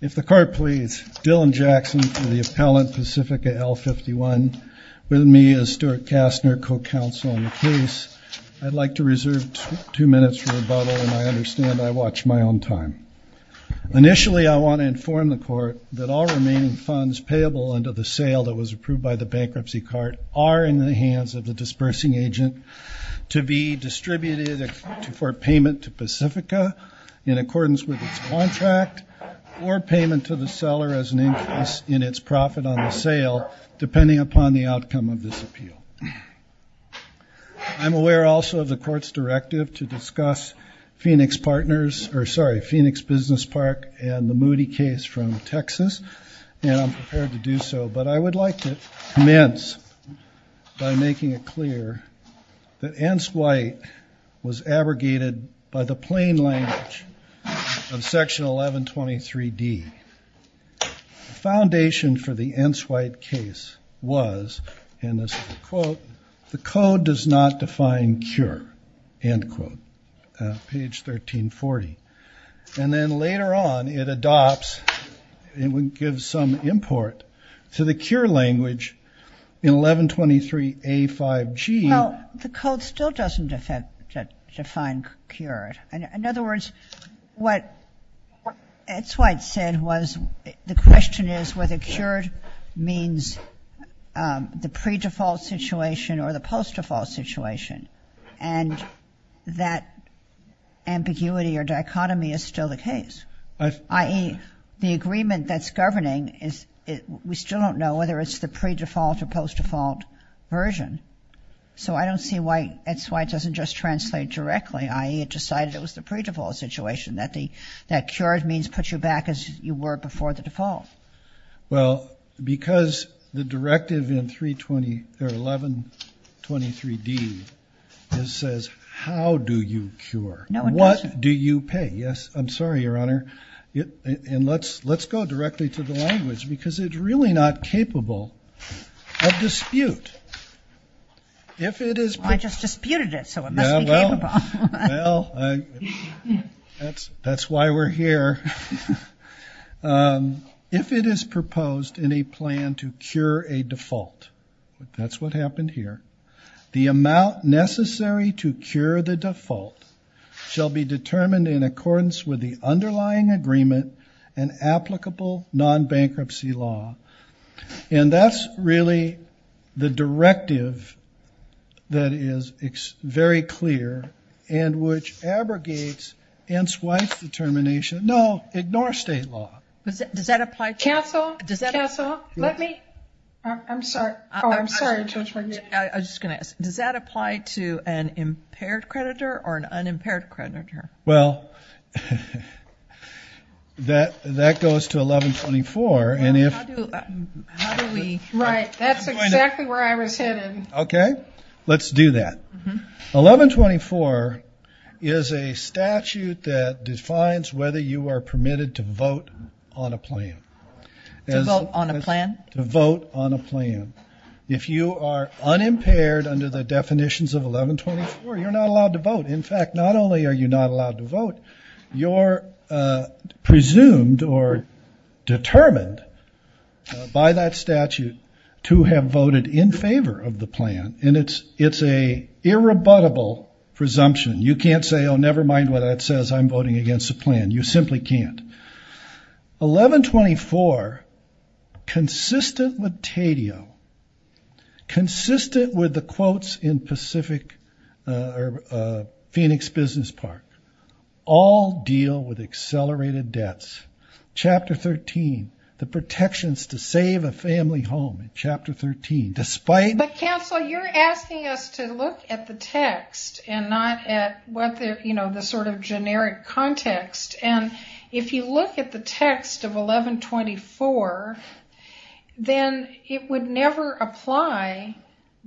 If the court please, Dylan Jackson for the appellant Pacifica L 51 with me as Stuart Kastner co-counsel on the case. I'd like to reserve two minutes for rebuttal and I understand I watched my own time. Initially I want to inform the court that all remaining funds payable under the sale that was approved by the bankruptcy cart are in the hands of the dispersing agent to be distributed for payment to Pacifica in accordance with its contract or payment to the seller as an increase in its profit on the sale depending upon the outcome of this appeal. I'm aware also of the court's directive to discuss Phoenix Partners or sorry Phoenix Business Park and the Moody case from Texas and I'm prepared to do so but I would like to commence by making it clear that Ence White was abrogated by the plain language of section 1123 D. The foundation for the Ence White case was and this is a quote the code does not define cure end quote page 1340 and then later on it adopts it would give some import to the cure language in 1123 A5G. Well the code still doesn't define cured. In other words what Ence White said was the question is whether cured means the pre default situation or the post default situation and that ambiguity or dichotomy is still the case i.e. the agreement that's governing is it we still don't know whether it's the pre default or post default version so I don't see why Ence White doesn't just translate directly i.e. it decided it was the pre default situation that the that cured means put you back as you were before the default. Well because the directive in 320 or 1123 D this says how do you cure? No. What do you pay? Yes. I'm sorry your honor it and let's let's go of dispute. If it is I just disputed it so well that's that's why we're here. If it is proposed in a plan to cure a default that's what happened here the amount necessary to cure the default shall be determined in accordance with the underlying agreement and applicable non-bankruptcy law and that's really the directive that is it's very clear and which abrogates Ence White's determination no ignore state law. Does that apply? Counsel? Counsel? Let me I'm sorry I'm sorry I just gonna ask does that apply to an impaired creditor or an that that goes to 1124 and if okay let's do that. 1124 is a statute that defines whether you are permitted to vote on a plan. To vote on a plan? To vote on a plan. If you are unimpaired under the definitions of 1124 you're not allowed to vote in fact not only are you not allowed to vote you're presumed or determined by that statute to have voted in favor of the plan and it's it's a irrebuttable presumption you can't say oh never mind what that says I'm voting against the plan you simply can't. 1124 consistent with Tadeo consistent with the quotes in Pacific or Phoenix Business Park all deal with accelerated debts chapter 13 the protections to save a family home in chapter 13 despite. But counsel you're asking us to look at the text and not at what they're you know the sort of generic context and if you look at the text of 1124 then it would never apply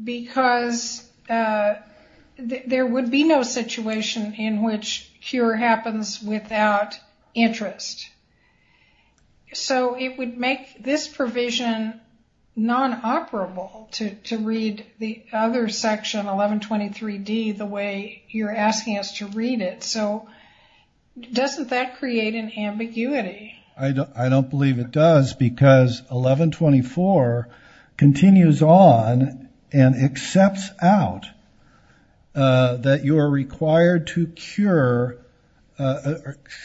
because there would be no situation in which cure happens without interest. So it would make this provision non-operable to read the other section 1123 D the way you're asking us to read it so doesn't that create an ambiguity. I don't believe it does because 1124 continues on and accepts out that you are required to cure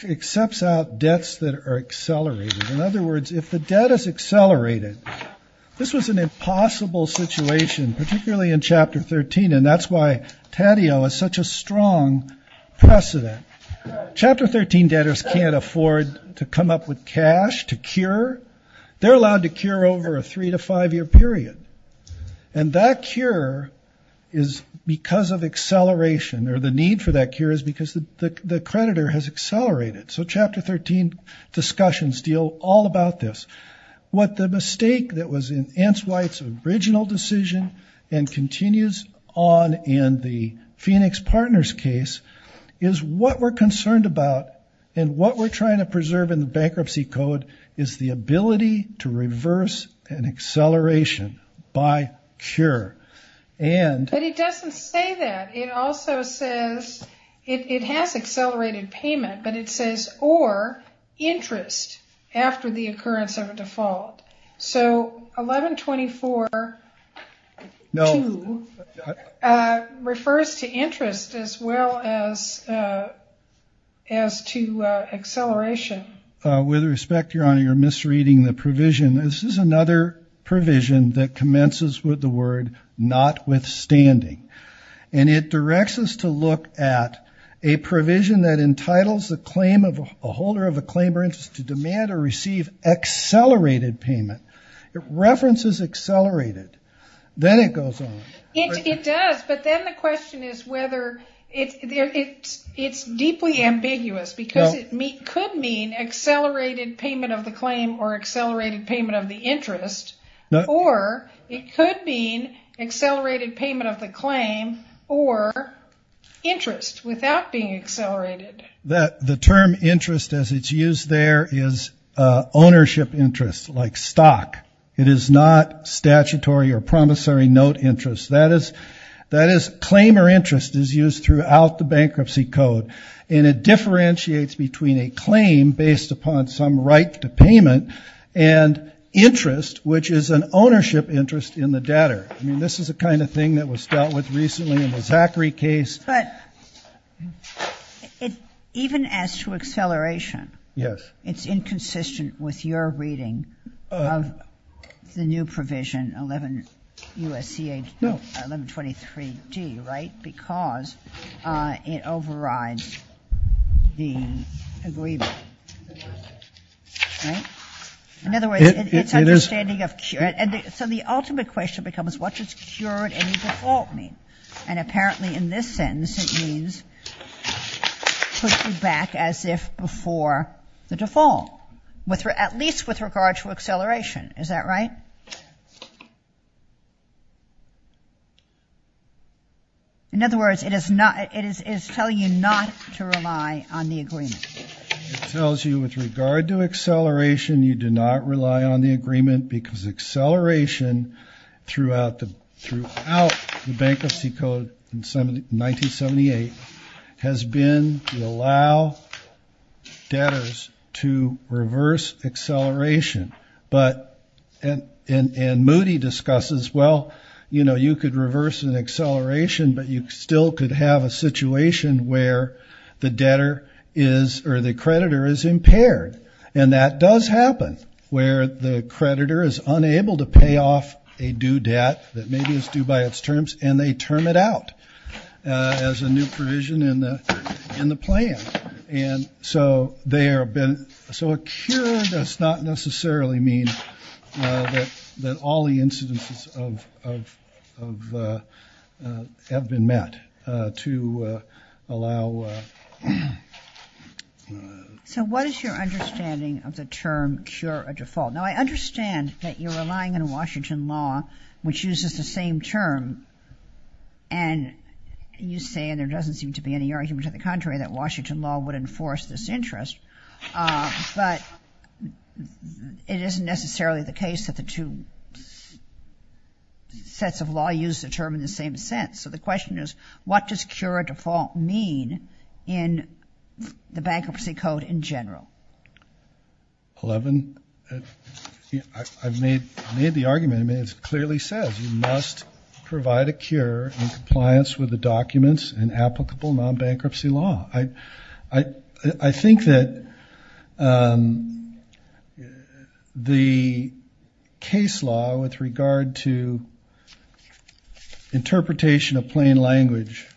accepts out debts that are accelerated in other words if the debt is accelerated this was an impossible situation particularly in chapter 13 and that's why Tadeo is such a strong precedent. Chapter 13 debtors can't afford to come up with cash to cure they're allowed to cure over a three to five year period and that cure is because of acceleration or the need for that cure is because the creditor has accelerated so chapter 13 discussions deal all about this what the mistake that was in Ants White's original decision and continues on in the Phoenix Partners case is what we're concerned about and what we're trying to preserve in the bankruptcy code is the ability to reverse an acceleration by cure. But it doesn't say that it also says it has accelerated payment but it says or interest after the occurrence of a as to acceleration. With respect your honor you're misreading the provision this is another provision that commences with the word notwithstanding and it directs us to look at a provision that entitles the claim of a holder of a claim or interest to demand or receive accelerated payment it references accelerated then it goes on. It does but then the question is whether it's deeply ambiguous because it could mean accelerated payment of the claim or accelerated payment of the interest or it could mean accelerated payment of the claim or interest without being accelerated. That the term interest as it's used there is ownership interest like stock it is not statutory or promissory note interest that is that is claimer interest is used throughout the and it differentiates between a claim based upon some right to payment and interest which is an ownership interest in the debtor. I mean this is a kind of thing that was dealt with recently in the Zachary case. But it even as to acceleration yes it's inconsistent with your reading of the new provision 11 23d right because it overrides the agreement. In other words it's understanding of cure and so the ultimate question becomes what does cured any default mean and apparently in this sentence it means put you back as if before the default with her at least with regard to acceleration is that right? In other words it is not it is telling you not to rely on the agreement. It tells you with regard to acceleration you do not rely on the agreement because acceleration throughout the throughout the Bankruptcy Code in 1978 has been to allow debtors to reverse acceleration but and Moody discusses well you know you could reverse an acceleration but you still could have a situation where the debtor is or the creditor is impaired and that does happen where the creditor is unable to pay off a due debt that maybe is due by its terms and they turn it out as a new So a cure does not necessarily mean that all the incidences of have been met to allow. So what is your understanding of the term cure a default? Now I understand that you're relying on Washington law which uses the same term and you say there doesn't seem to be any argument to the contrary that Washington law would force this interest but it isn't necessarily the case that the two sets of law use the term in the same sense. So the question is what does cure a default mean in the Bankruptcy Code in general? Eleven I've made made the argument I mean it's clearly says you must provide a cure in compliance with the documents and applicable non-bankruptcy law. I think that the case law with regard to interpretation of plain language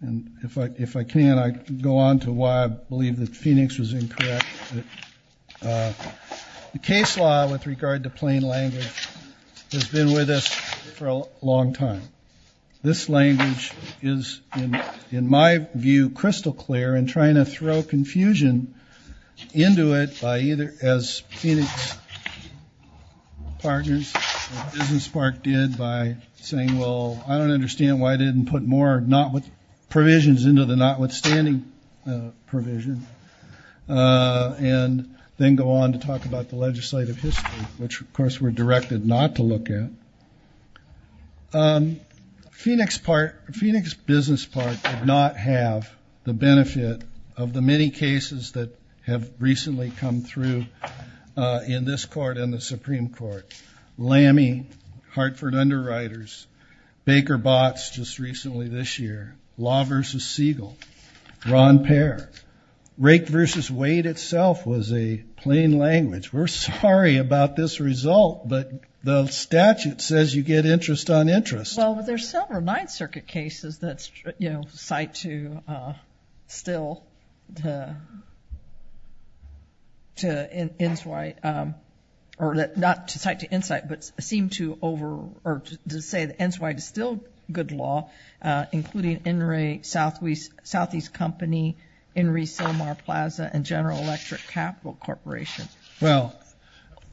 and if I if I can I go on to why I believe that Phoenix was incorrect. The case law with regard to plain language has been with us for a long time. This language is in my view crystal clear and trying to throw confusion into it by either as Phoenix Partners or Business Park did by saying well I don't understand why didn't put more not with provisions into the notwithstanding provision and then go on to talk about the legislative history which of course were directed not to look at. Phoenix part Phoenix Business Park did not have the benefit of the many cases that have recently come through in this court in the Supreme Court. Lammy, Hartford Underwriters, Baker Botts just recently this year, Law versus Siegel, Ron Pair, Rake versus Wade itself was a plain language. We're sorry about this result but the statute says you get interest on interest. Well there's several Ninth Circuit cases that's you know cite to still to to Inswight or that not to cite to insight but seem to over or to say that Inswight is still good law including Inree Southeast Company, Inree Silmar Plaza and General Electric Capital Corporation. Well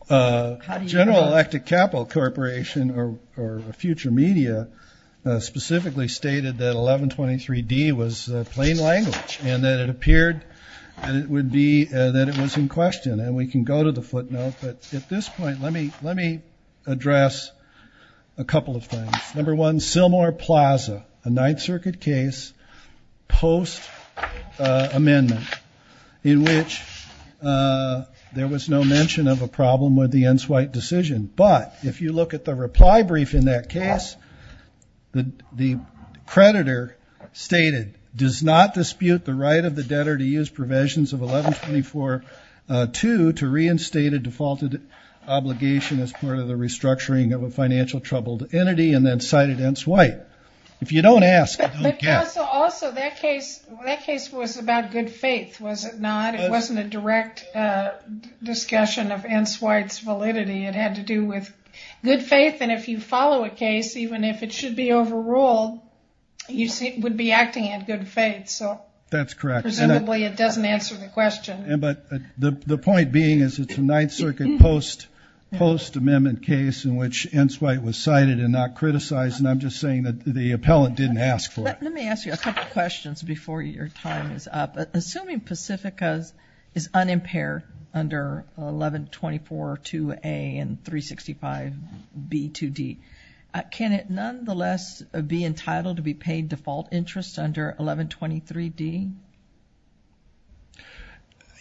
General Electric Capital Corporation or future media specifically stated that 1123 D was plain language and that it appeared and it would be that it was in question and we can go to the footnote but at this point let me let me address a couple of things. Number one, Silmar Plaza a Ninth Circuit case post amendment in which there was no mention of a problem with the Inswight decision but if you look at the reply brief in that case the creditor stated does not dispute the right of the debtor to use provisions of 1124-2 to reinstate a defaulted obligation as part of the if you don't ask. Also that case that case was about good faith was it not it wasn't a direct discussion of Inswight's validity it had to do with good faith and if you follow a case even if it should be overruled you see it would be acting in good faith so. That's correct. Presumably it doesn't answer the question. But the point being is it's a Ninth Circuit post post amendment case in which Inswight was cited and not criticized and I'm just saying that the appellant didn't ask for it. Let me ask you a couple questions before your time is up. Assuming Pacifica's is unimpaired under 1124-2A and 365-B-2D can it nonetheless be entitled to be paid default interest under 1123-D?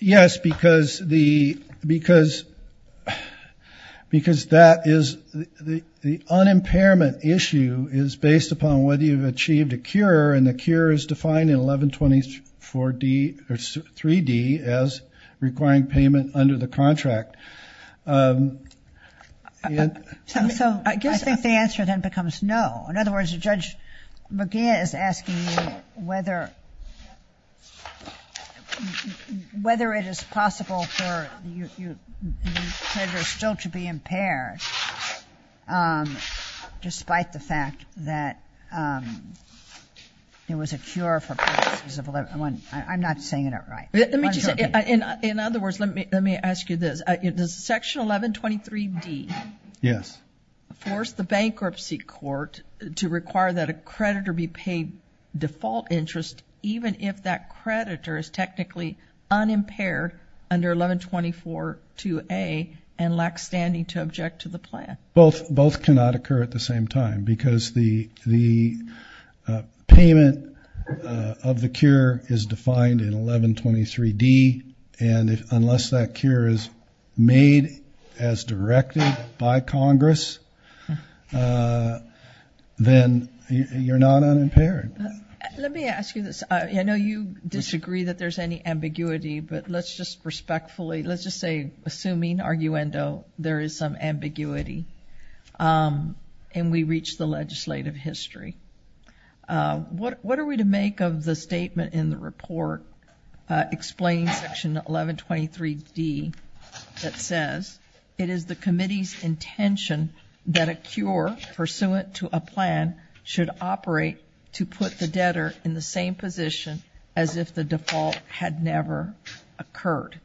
Yes because the because because that is the the unimpairment issue is based upon whether you've achieved a cure and the cure is defined in 1124-D or 3-D as requiring payment under the contract. So I guess I think the answer then becomes no. In other words, Judge McGinn is asking whether whether it is possible for you still to be impaired despite the fact that it was a cure for I'm not saying it out right. Let me just say in other words let me let me ask you this section 1123-D. Yes. Forced the bankruptcy court to require that a creditor be paid default interest even if that creditor is technically unimpaired under 1124-2A and lacks standing to object to the plan. Both both cannot occur at the same time because the the payment of the cure is made as directed by Congress then you're not unimpaired. Let me ask you this I know you disagree that there's any ambiguity but let's just respectfully let's just say assuming arguendo there is some ambiguity and we reach the legislative history. What what are we to make of the statement in the that says it is the committee's intention that a cure pursuant to a plan should operate to put the debtor in the same position as if the default had never occurred.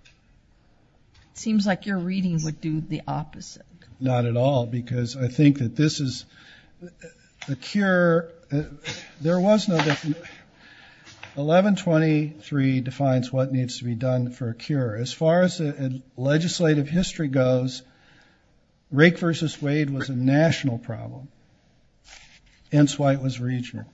Seems like your reading would do the opposite. Not at all because I think that this is the cure there was no 1123 defines what needs to be done for a cure. As far as the legislative history goes rake versus wade was a national problem. Enswite was regional.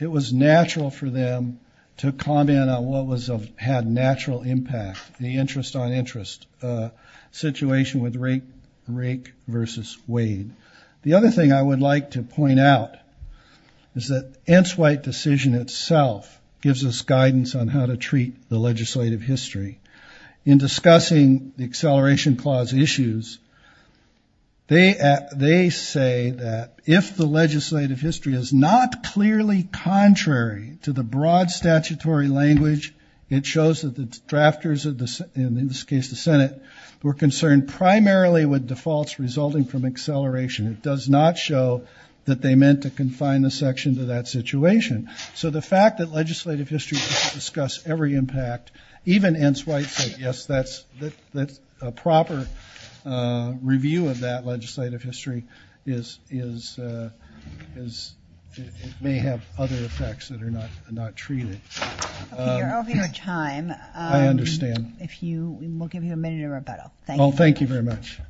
It was natural for them to comment on what was of had natural impact the interest on interest situation with rake rake versus wade. The other thing I would like to point out is that Enswite decision itself gives us guidance on how to treat the legislative history. In discussing the acceleration clause issues they at they say that if the legislative history is not clearly contrary to the broad statutory language it shows that the drafters of this in this case the Senate were concerned primarily with defaults resulting from acceleration. It does not show that they meant to confine the section to that situation. So the fact that legislative history discuss every impact even Enswite said yes that's that's a proper review of that legislative history is is is it may have other effects that are not not treated. You're over your time. I understand. If you will give you a minute of rebuttal. Thank you very much.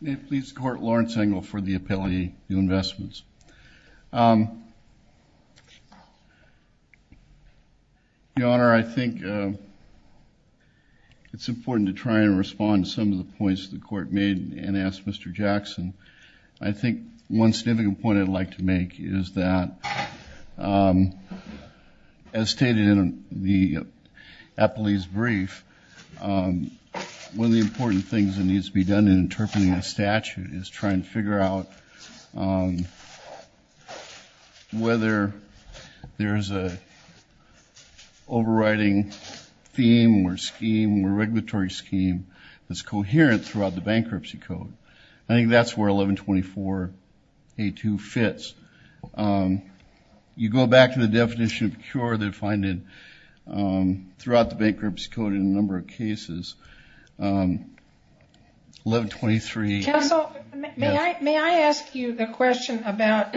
May it please the court Lawrence Engel for the appellee new investments. Your honor I think it's important to try and respond to some of the points the court made and asked Mr. Jackson. I think one significant point I'd like to make is that as stated in the appellee's brief one of the important things that needs to be done in interpreting a statute is trying to figure out whether there's a overriding theme or scheme or regulatory scheme that's coherent throughout the you go back to the definition of cure they find it throughout the bankruptcy code in a number of cases. May I ask you the question about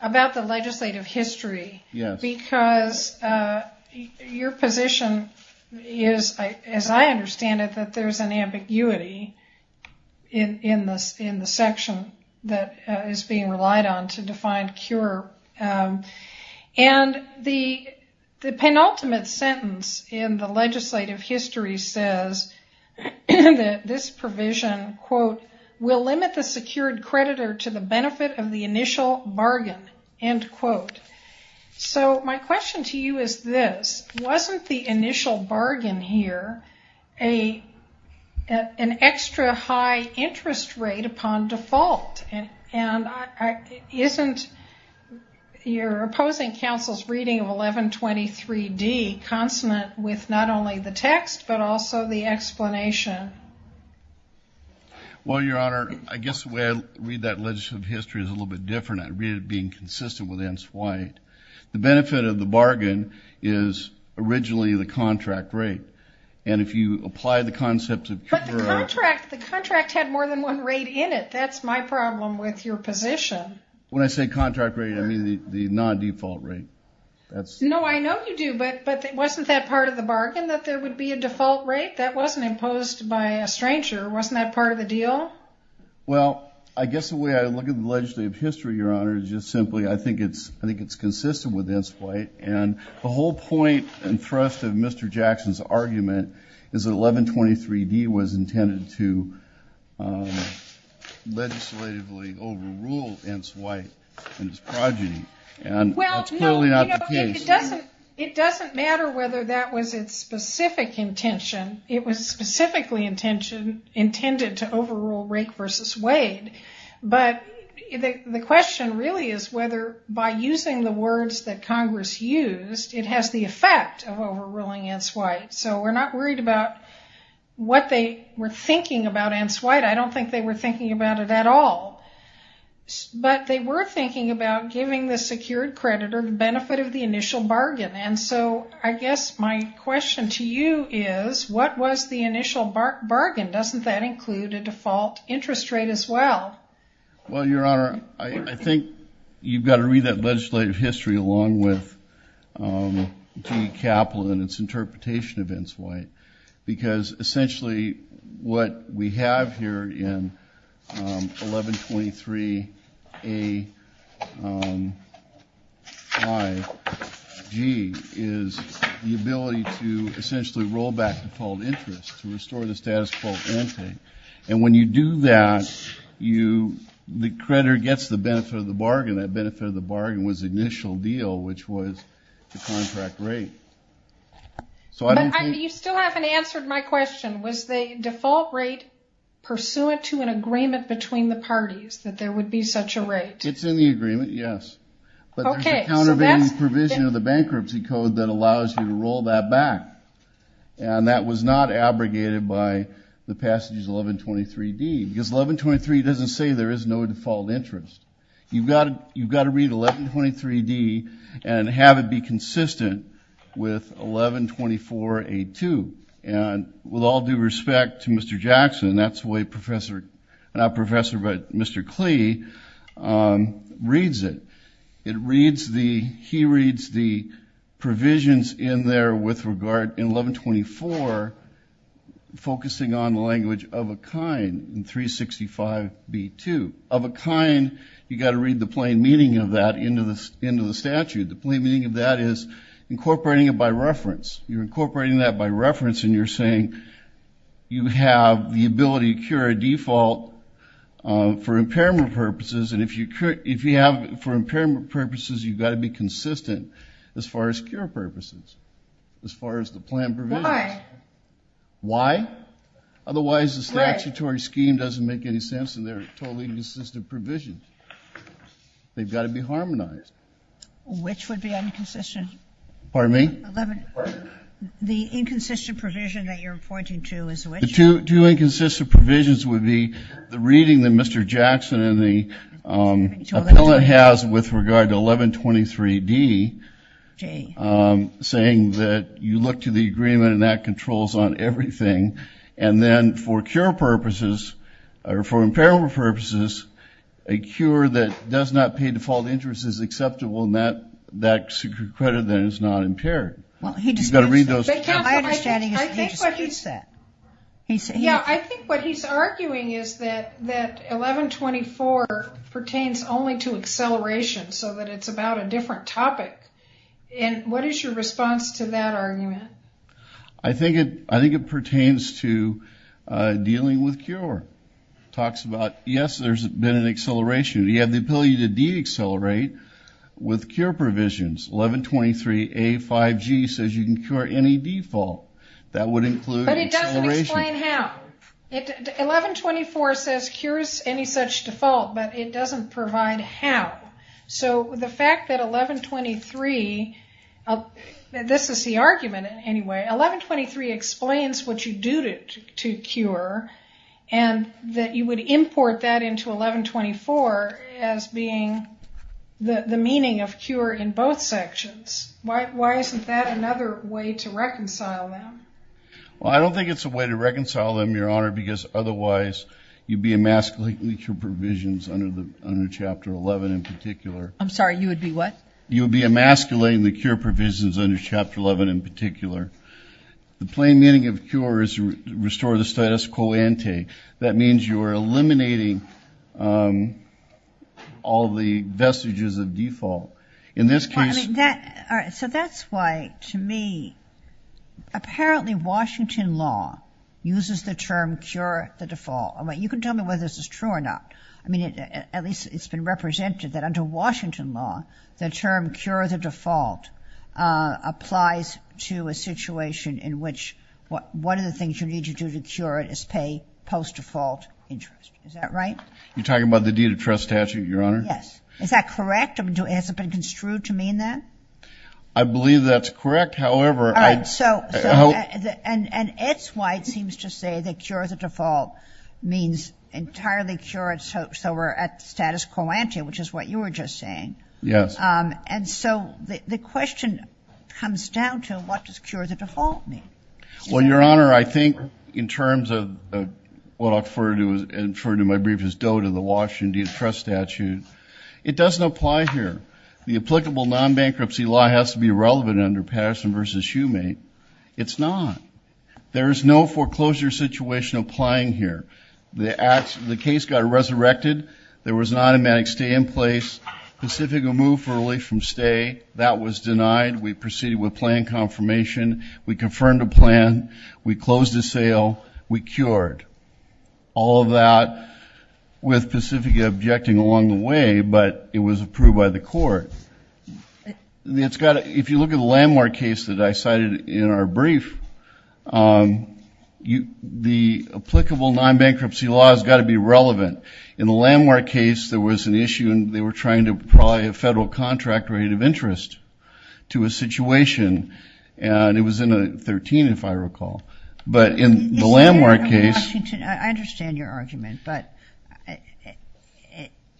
about the legislative history? Yes. Because your position is as I understand it that there's an ambiguity in this in the section that is being relied on to find cure and the penultimate sentence in the legislative history says this provision quote will limit the secured creditor to the benefit of the initial bargain end quote. So my question to you is this wasn't the initial bargain here an extra high interest rate upon default and isn't your opposing counsel's reading of 1123 D consonant with not only the text but also the explanation? Well your honor I guess the way I read that legislative history is a little bit different. I read it being consistent with N. Swyatt. The benefit of the bargain is originally the contract rate and if you apply the concept of the contract had more than one rate in it that's my problem with your position. When I say contract rate I mean the non-default rate. No I know you do but but it wasn't that part of the bargain that there would be a default rate that wasn't imposed by a stranger wasn't that part of the deal? Well I guess the way I look at the legislative history your honor is just simply I think it's I think it's consistent with N. Swyatt and the whole point and thrust of Mr. Jackson's argument is that 1123 D was intended to legislatively overrule N. Swyatt and his progeny and that's clearly not the case. It doesn't matter whether that was its specific intention it was specifically intention intended to overrule Rake versus Wade but the question really is whether by using the words that Congress used it has the effect of overruling N. Swyatt so we're not worried about what they were thinking about N. Swyatt. I don't think they were thinking about it at all but they were thinking about giving the secured creditor the benefit of the initial bargain and so I guess my question to you is what was the default interest rate as well? Well your honor I think you've got to read that legislative history along with G. Kaplan and its interpretation of N. Swyatt because essentially what we have here in 1123 A. Y. G. is the ability to essentially roll back the default interest to restore the status quo and when you do that you the creditor gets the benefit of the bargain that benefit of the bargain was initial deal which was the contract rate. So you still haven't answered my question was the default rate pursuant to an agreement between the parties that there would be such a rate? It's in the agreement yes but there's a countervailing provision of the bankruptcy code that allows you to roll that back and that was not abrogated by the passages 1123 D. Because 1123 doesn't say there is no default interest. You've got to read 1123 D. and have it be consistent with 1124 A. 2 and with all due respect to Mr. Jackson that's the way professor, not professor but Mr. Clee reads it. It reads the, he reads the paragraph with regard in 1124 focusing on language of a kind in 365 B. 2. Of a kind you got to read the plain meaning of that into this into the statute. The plain meaning of that is incorporating it by reference. You're incorporating that by reference and you're saying you have the ability to cure a default for impairment purposes and if you could if you have for impairment purposes you've got to be as far as the plan provisions. Why? Why? Otherwise the statutory scheme doesn't make any sense and they're totally inconsistent provisions. They've got to be harmonized. Which would be inconsistent? Pardon me? The inconsistent provision that you're pointing to is which? The two inconsistent provisions would be the reading that Mr. you look to the agreement and that controls on everything and then for cure purposes or for impairment purposes a cure that does not pay default interest is acceptable and that that secret credit then is not impaired. Well he just got to read those. I think what he's arguing is that that 1124 pertains only to acceleration so that it's about a different topic and what is your response to that argument? I think it I think it pertains to dealing with cure. Talks about yes there's been an acceleration. You have the ability to deaccelerate with cure provisions. 1123a 5g says you can cure any default that would include acceleration. But it doesn't explain how. 1124 says cures any such default but it the fact that 1123, this is the argument anyway, 1123 explains what you do to cure and that you would import that into 1124 as being the meaning of cure in both sections. Why isn't that another way to reconcile them? Well I don't think it's a way to reconcile them your honor because otherwise you'd be emasculating your particular. I'm sorry you would be what? You would be emasculating the cure provisions under chapter 11 in particular. The plain meaning of cure is restore the status quo ante. That means you are eliminating all the vestiges of default. In this case. So that's why to me apparently Washington law uses the term cure the default. I mean you can tell me whether this is true or not. I under Washington law the term cure the default applies to a situation in which what one of the things you need to do to cure it is pay post default interest. Is that right? You're talking about the deed of trust statute your honor? Yes. Is that correct? Has it been construed to mean that? I believe that's correct. However I'd so. And that's why it seems to say that cure the default means entirely cure it so we're at status quo ante which is what you were just saying. Yes. And so the question comes down to what does cure the default mean? Well your honor I think in terms of what I'll refer to and refer to my brief is dote of the Washington deed of trust statute. It doesn't apply here. The applicable non-bankruptcy law has to be relevant under Patterson versus Shoemate. It's not. There is no foreclosure situation applying here. The case got resurrected. There was an automatic stay in place. Pacifica moved for relief from stay. That was denied. We proceeded with plan confirmation. We confirmed a plan. We closed the sale. We cured. All of that with Pacifica objecting along the way but it was approved by the court. It's got if you look at the Landmark case that I cited in our brief you the applicable non-bankruptcy law has got to be relevant. In the Landmark case there was an issue and they were trying to probably a federal contract rate of interest to a situation and it was in a 13 if I recall but in the Landmark case. I understand your argument but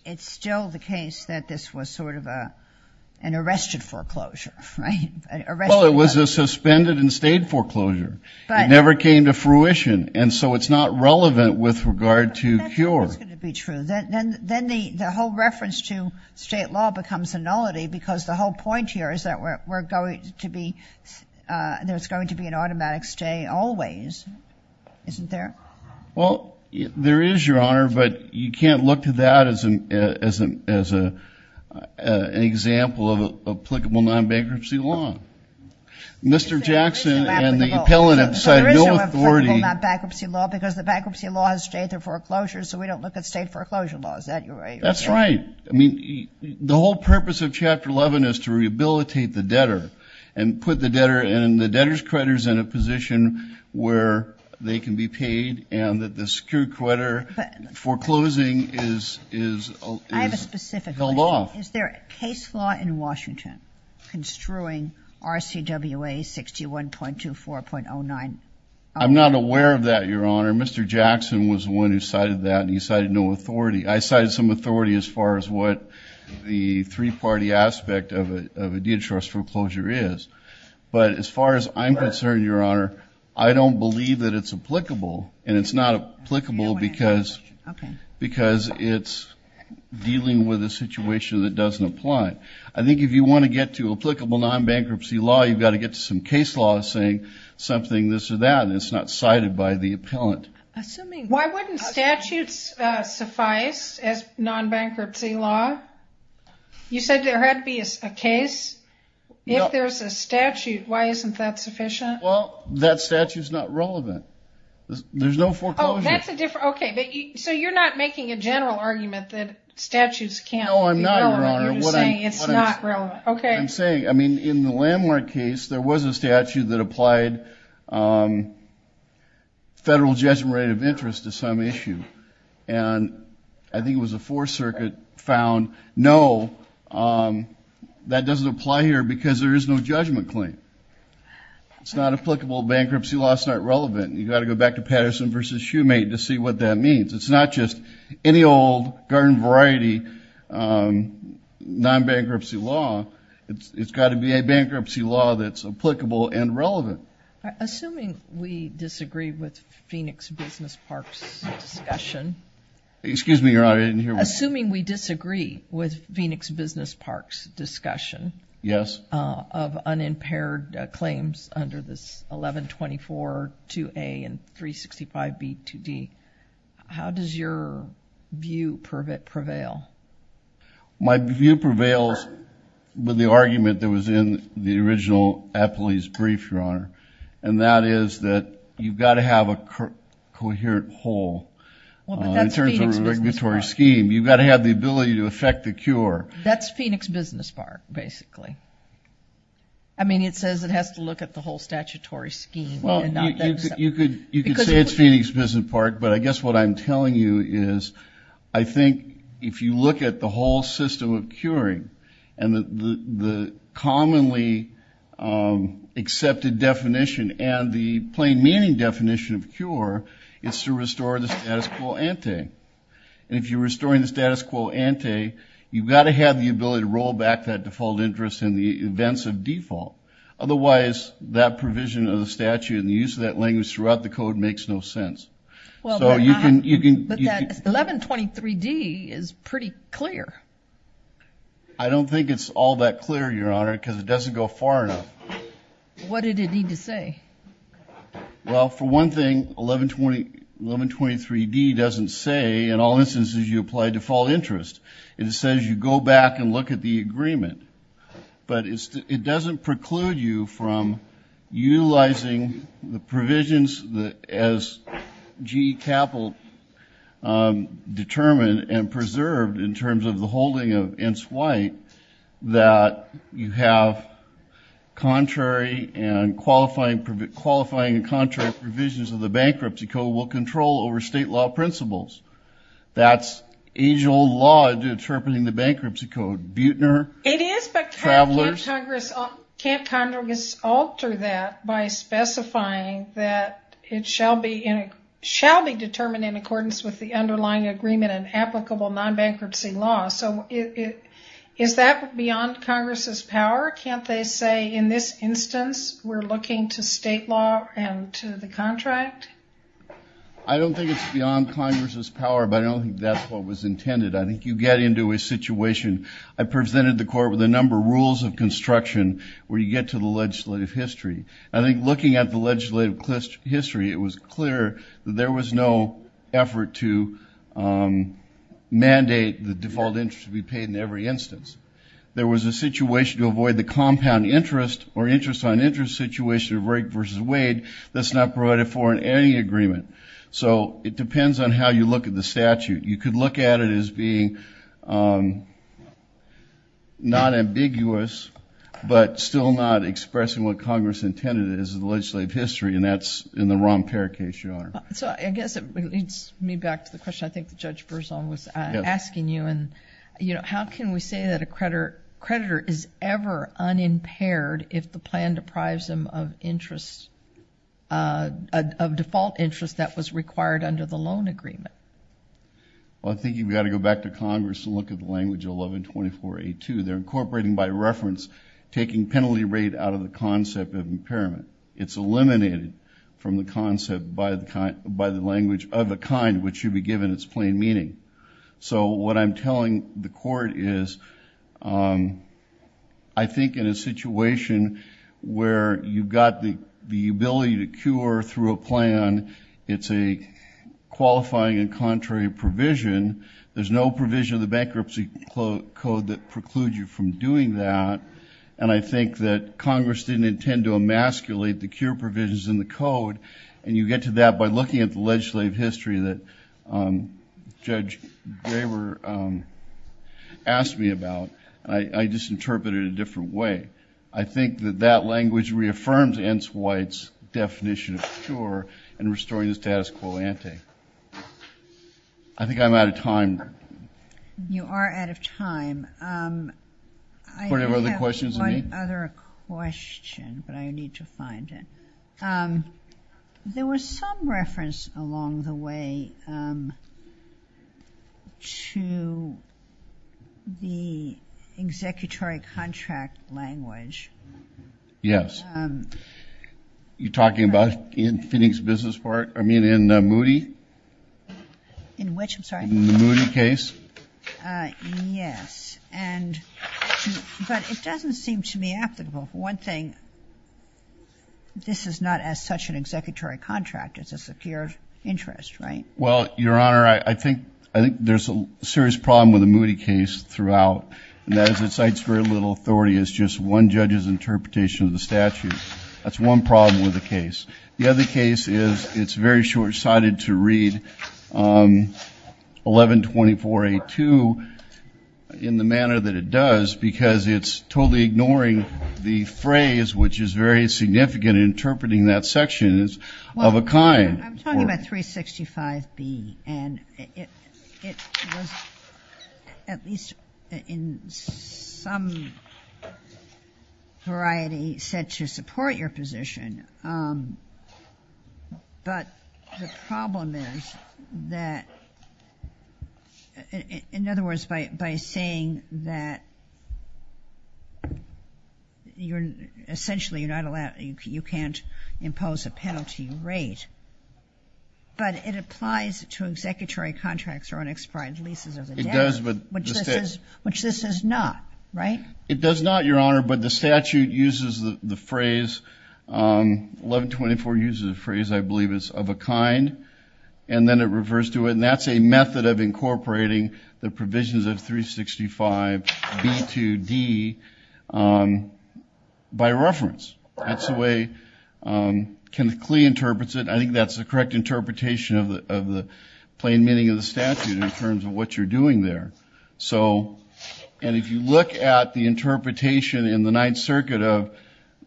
it's still the case that this was sort of an arrested foreclosure. Well it was a suspended and stayed foreclosure. It never came to fruition and so it's not relevant with regard to cure. Then the whole reference to state law becomes a nullity because the whole point here is that we're going to be there's going to be an automatic stay always isn't there? Well there is your honor but you can't look at that as an example of applicable non-bankruptcy law. Mr. Jackson and the appellant have cited no authority. So there is no applicable non-bankruptcy law because the bankruptcy law has stayed through foreclosure so we don't look at state foreclosure laws is that right? That's right. I mean the whole purpose of chapter 11 is to rehabilitate the debtor and put the debtor and the debtors creditors in a position where they can be paid and that the secured creditor foreclosing is held off. Is there a case law in Washington construing RCWA 61.24.09? I'm not aware of that your honor. Mr. Jackson was the one who cited that and he cited no authority. I cited some authority as far as what the three-party aspect of a debtors foreclosure is but as far as I'm concerned your honor I don't believe that it's applicable and it's not applicable because because it's dealing with a situation that doesn't apply. I think if you want to get to applicable non-bankruptcy law you've got to get to some case law saying something this or that and it's not cited by the appellant. Why wouldn't statutes suffice as non-bankruptcy law? You said there had to be a case. If that statute is not relevant there's no foreclosure. So you're not making a general argument that statutes can't be relevant. No I'm not your honor. I'm saying I mean in the landmark case there was a statute that applied federal judgment rate of interest to some issue and I think it was a fourth circuit found no that doesn't apply here because there is no judgment claim. It's not applicable bankruptcy law. It's not relevant. You've got to go back to Patterson versus Shoemate to see what that means. It's not just any old garden variety non-bankruptcy law. It's got to be a bankruptcy law that's applicable and relevant. Assuming we disagree with Phoenix Business Park's discussion. Excuse me your honor. Assuming we disagree with Phoenix Business Park's of unimpaired claims under this 1124 2a and 365 b 2d how does your view prevail? My view prevails with the argument that was in the original appellee's brief your honor and that is that you've got to have a coherent whole in terms of regulatory scheme. You've got to have the ability to affect the cure. That's Phoenix Business Park basically. I mean it says it has to look at the whole statutory scheme. Well you could you could say it's Phoenix Business Park but I guess what I'm telling you is I think if you look at the whole system of curing and the commonly accepted definition and the plain meaning definition of cure it's to restore the status quo ante. If you're restoring the have the ability to roll back that default interest in the events of default. Otherwise that provision of the statute and the use of that language throughout the code makes no sense. Well so you can you can but that 1123 D is pretty clear. I don't think it's all that clear your honor because it doesn't go far enough. What did it need to say? Well for one thing 1120 1123 D doesn't say in all instances you apply default interest. It says you go back and look at the agreement but it doesn't preclude you from utilizing the provisions that as GE Capital determined and preserved in terms of the holding of Ents White that you have contrary and qualifying and contrary provisions of the bankruptcy code will control over state law principles. That's age-old law interpreting the bankruptcy code. Buechner. It is but can't Congress alter that by specifying that it shall be determined in accordance with the underlying agreement and applicable non-bankruptcy law. So is that beyond Congress's power? Can't they say in this instance we're looking to state law and to the contract? I don't think it's beyond Congress's power but I don't think that's what was intended. I think you get into a situation I presented the court with a number of rules of construction where you get to the legislative history. I think looking at the legislative history it was clear there was no effort to mandate the default interest to be paid in every instance. There was a situation to avoid the compound interest or interest on interest situation of Rake versus Wade that's not provided for in any agreement. So it depends on how you look at the statute. You could look at it as being not ambiguous but still not expressing what Congress intended it is in the legislative history and that's in the Rompere case, Your Honor. So I guess it leads me back to the question I think Judge Berzon was asking you and you know how can we say that a creditor is ever unimpaired if the plan deprives them of interest, of default interest that was required under the loan agreement? Well I think you've got to go back to Congress and look at the language 1124A2. They're incorporating by reference taking penalty rate out of the concept of impairment. It's eliminated from the concept by the language of a kind which should be I think in a situation where you've got the ability to cure through a plan. It's a qualifying and contrary provision. There's no provision of the bankruptcy code that precludes you from doing that and I think that Congress didn't intend to emasculate the cure provisions in the code and you get to that by looking at the legislative history that Judge Graber asked me about. I just interpreted a different way. I think that that language reaffirms Ence White's definition of cure and restoring the status quo ante. I think I'm out of time. You are out of time. Do we have other questions? I have one other question but I need to find it. There was some reference along the way to the executory contract language. Yes. You're talking about in Phoenix Business Park? I mean in Moody? In which I'm sorry? In the Moody case? Yes, but it doesn't seem to me applicable. One thing, this is not as such an executory contract. It's a secure interest, right? Well, Your Honor, I think I think there's a serious problem with the Moody case throughout and that is it cites very little authority. It's just one judge's interpretation of the statute. That's one problem with the case. The other case is it's very short-sighted to 1124A2 in the manner that it does because it's totally ignoring the phrase which is very significant interpreting that section is of a kind. I'm talking about 365B and it was at least in some variety said to support your position, but the problem is that, in other words, by saying that you're essentially you're not allowed, you can't impose a penalty rate, but it applies to executory contracts or unexpired leases of the debt, which this is not, right? It does not, Your Honor, but the statute uses the phrase, 1124 uses a phrase I believe is of a kind and then it reverts to it and that's a method of incorporating the provisions of 365B2D by reference. That's the way Kenneth Klee interprets it. I think that's the correct interpretation of the plain meaning of the statute in terms of what you're doing there. So, and if you look at the interpretation in the Ninth Circuit of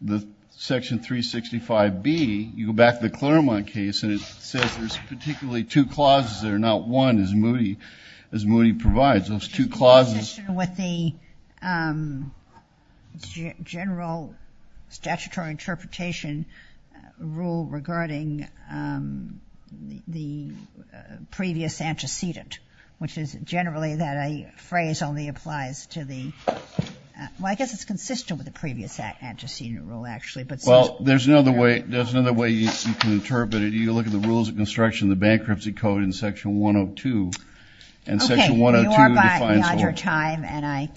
the section 365B, you go back to the Claremont case and it says there's particularly two clauses there, not one as Moody, as Moody provides those two clauses. With the general statutory interpretation rule regarding the previous antecedent, which is generally that a phrase only applies to the, well, I guess it's consistent with the previous antecedent rule actually, but... Well, there's another way, there's another way you can interpret it. You look at the rules of construction, the bankruptcy code in section 102, and section 102 defines... Okay, you are behind your time and I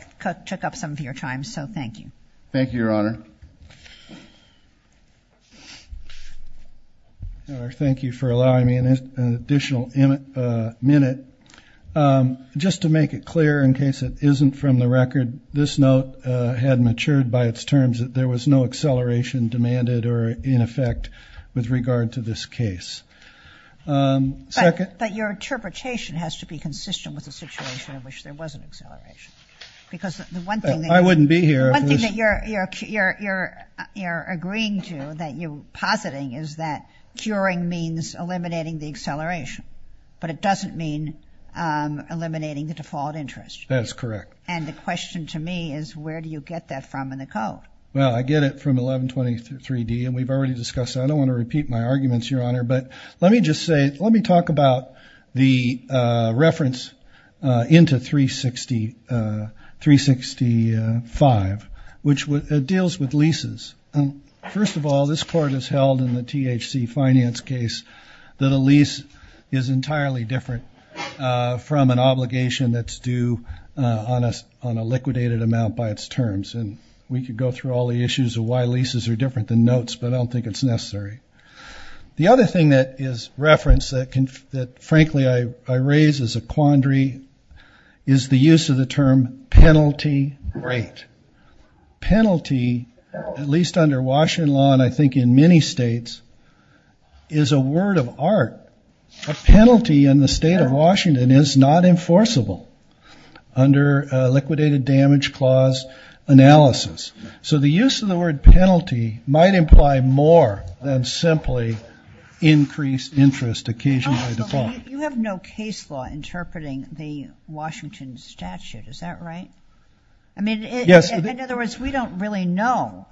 took up some of your time, so thank you. Thank you, Your Honor. Thank you for allowing me an additional minute. Just to make it clear in case it isn't from the record, this note had matured by its terms that there was no acceleration demanded or in effect with regard to this case. But your interpretation has to be consistent with the situation in which there was an You're agreeing to, that you're positing is that curing means eliminating the acceleration, but it doesn't mean eliminating the default interest. That's correct. And the question to me is where do you get that from in the code? Well, I get it from 1123 D and we've already discussed that. I don't want to repeat my arguments, Your Honor, but let me just say, let me talk about the reference into 365, which deals with leases. First of all, this court has held in the THC finance case that a lease is entirely different from an obligation that's due on a liquidated amount by its terms. And we could go through all the issues of why leases are different than notes, but I don't think it's necessary. The other thing that is referenced that frankly I raise as a quandary is the use of the term penalty rate. Penalty, at least under Washington law and I think in many states, is a word of art. A penalty in the state of Washington is not enforceable under liquidated damage clause analysis. So the use of the word more than simply increased interest occasionally defined. You have no case law interpreting the Washington statute, is that right? I mean, in other words, we don't really know.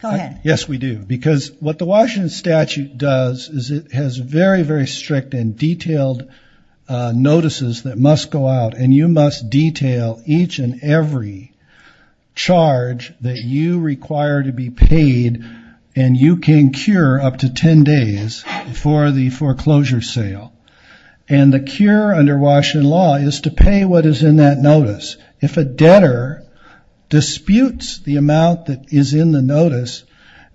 Go ahead. Yes, we do. Because what the Washington statute does is it has very, very strict and detailed notices that must go out and you must detail each and every charge that you require to be paid and you can cure up to 10 days before the foreclosure sale. And the cure under Washington law is to pay what is in that notice. If a debtor disputes the amount that is in the notice,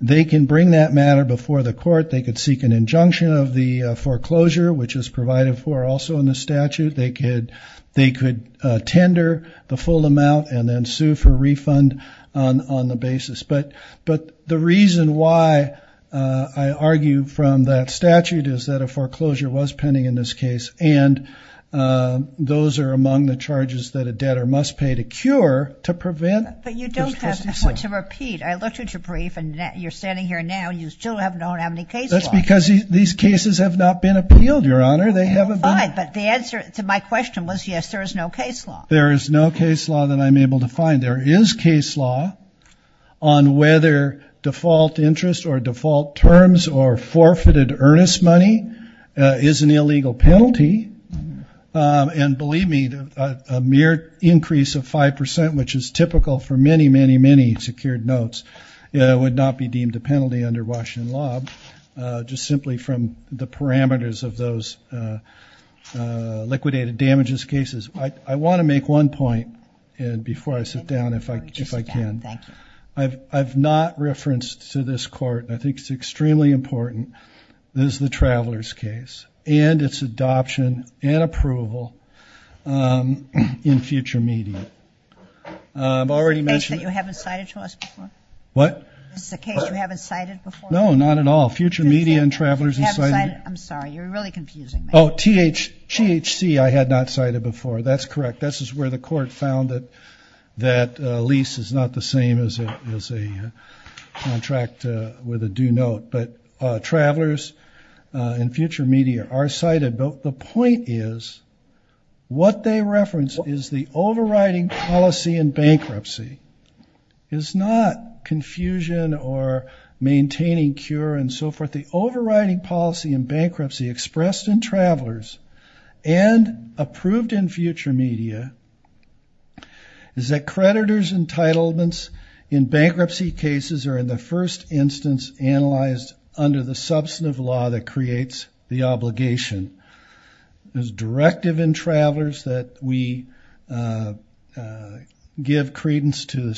they can bring that matter before the court. They could seek an injunction of the foreclosure, which is provided for also in the statute. They could tender the full amount and then sue for refund on the basis. But the reason why I argue from that statute is that a foreclosure was pending in this case and those are among the charges that a debtor must pay to cure to prevent. But you don't have, to repeat, I looked at your brief and you're standing here now and you still don't have any case law. That's because these cases have not been appealed, Your Honor. They haven't been. Fine, but the answer to my question was, yes, there is no case law. There is no case law that I'm able to find. There is case law on whether default interest or default terms or forfeited earnest money is an illegal penalty. And believe me, a mere increase of five percent, which is typical for many, many, many secured notes, would not be deemed a penalty under Washington law. Just simply from the parameters of those liquidated damages cases, I want to make one point and before I sit down, if I can. I've not referenced to this Court, I think it's extremely important, this is the Travelers case and its adoption and approval in future media. I've already mentioned... Is this a case that you haven't cited to us before? What? Is this a case you haven't cited before? No, not at all. Future media and That's correct. This is where the Court found that lease is not the same as a contract with a due note. But Travelers and future media are cited. But the point is, what they reference is the overriding policy in bankruptcy. It's not confusion or maintaining cure and so forth. The overriding policy in future media is that creditors entitlements in bankruptcy cases are in the first instance analyzed under the substantive law that creates the obligation. There's directive in Travelers that we give credence to the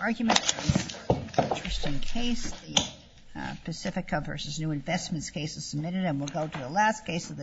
argument. Just in case, the Pacifica v. New Investments case is submitted and we'll go to the last case of the day.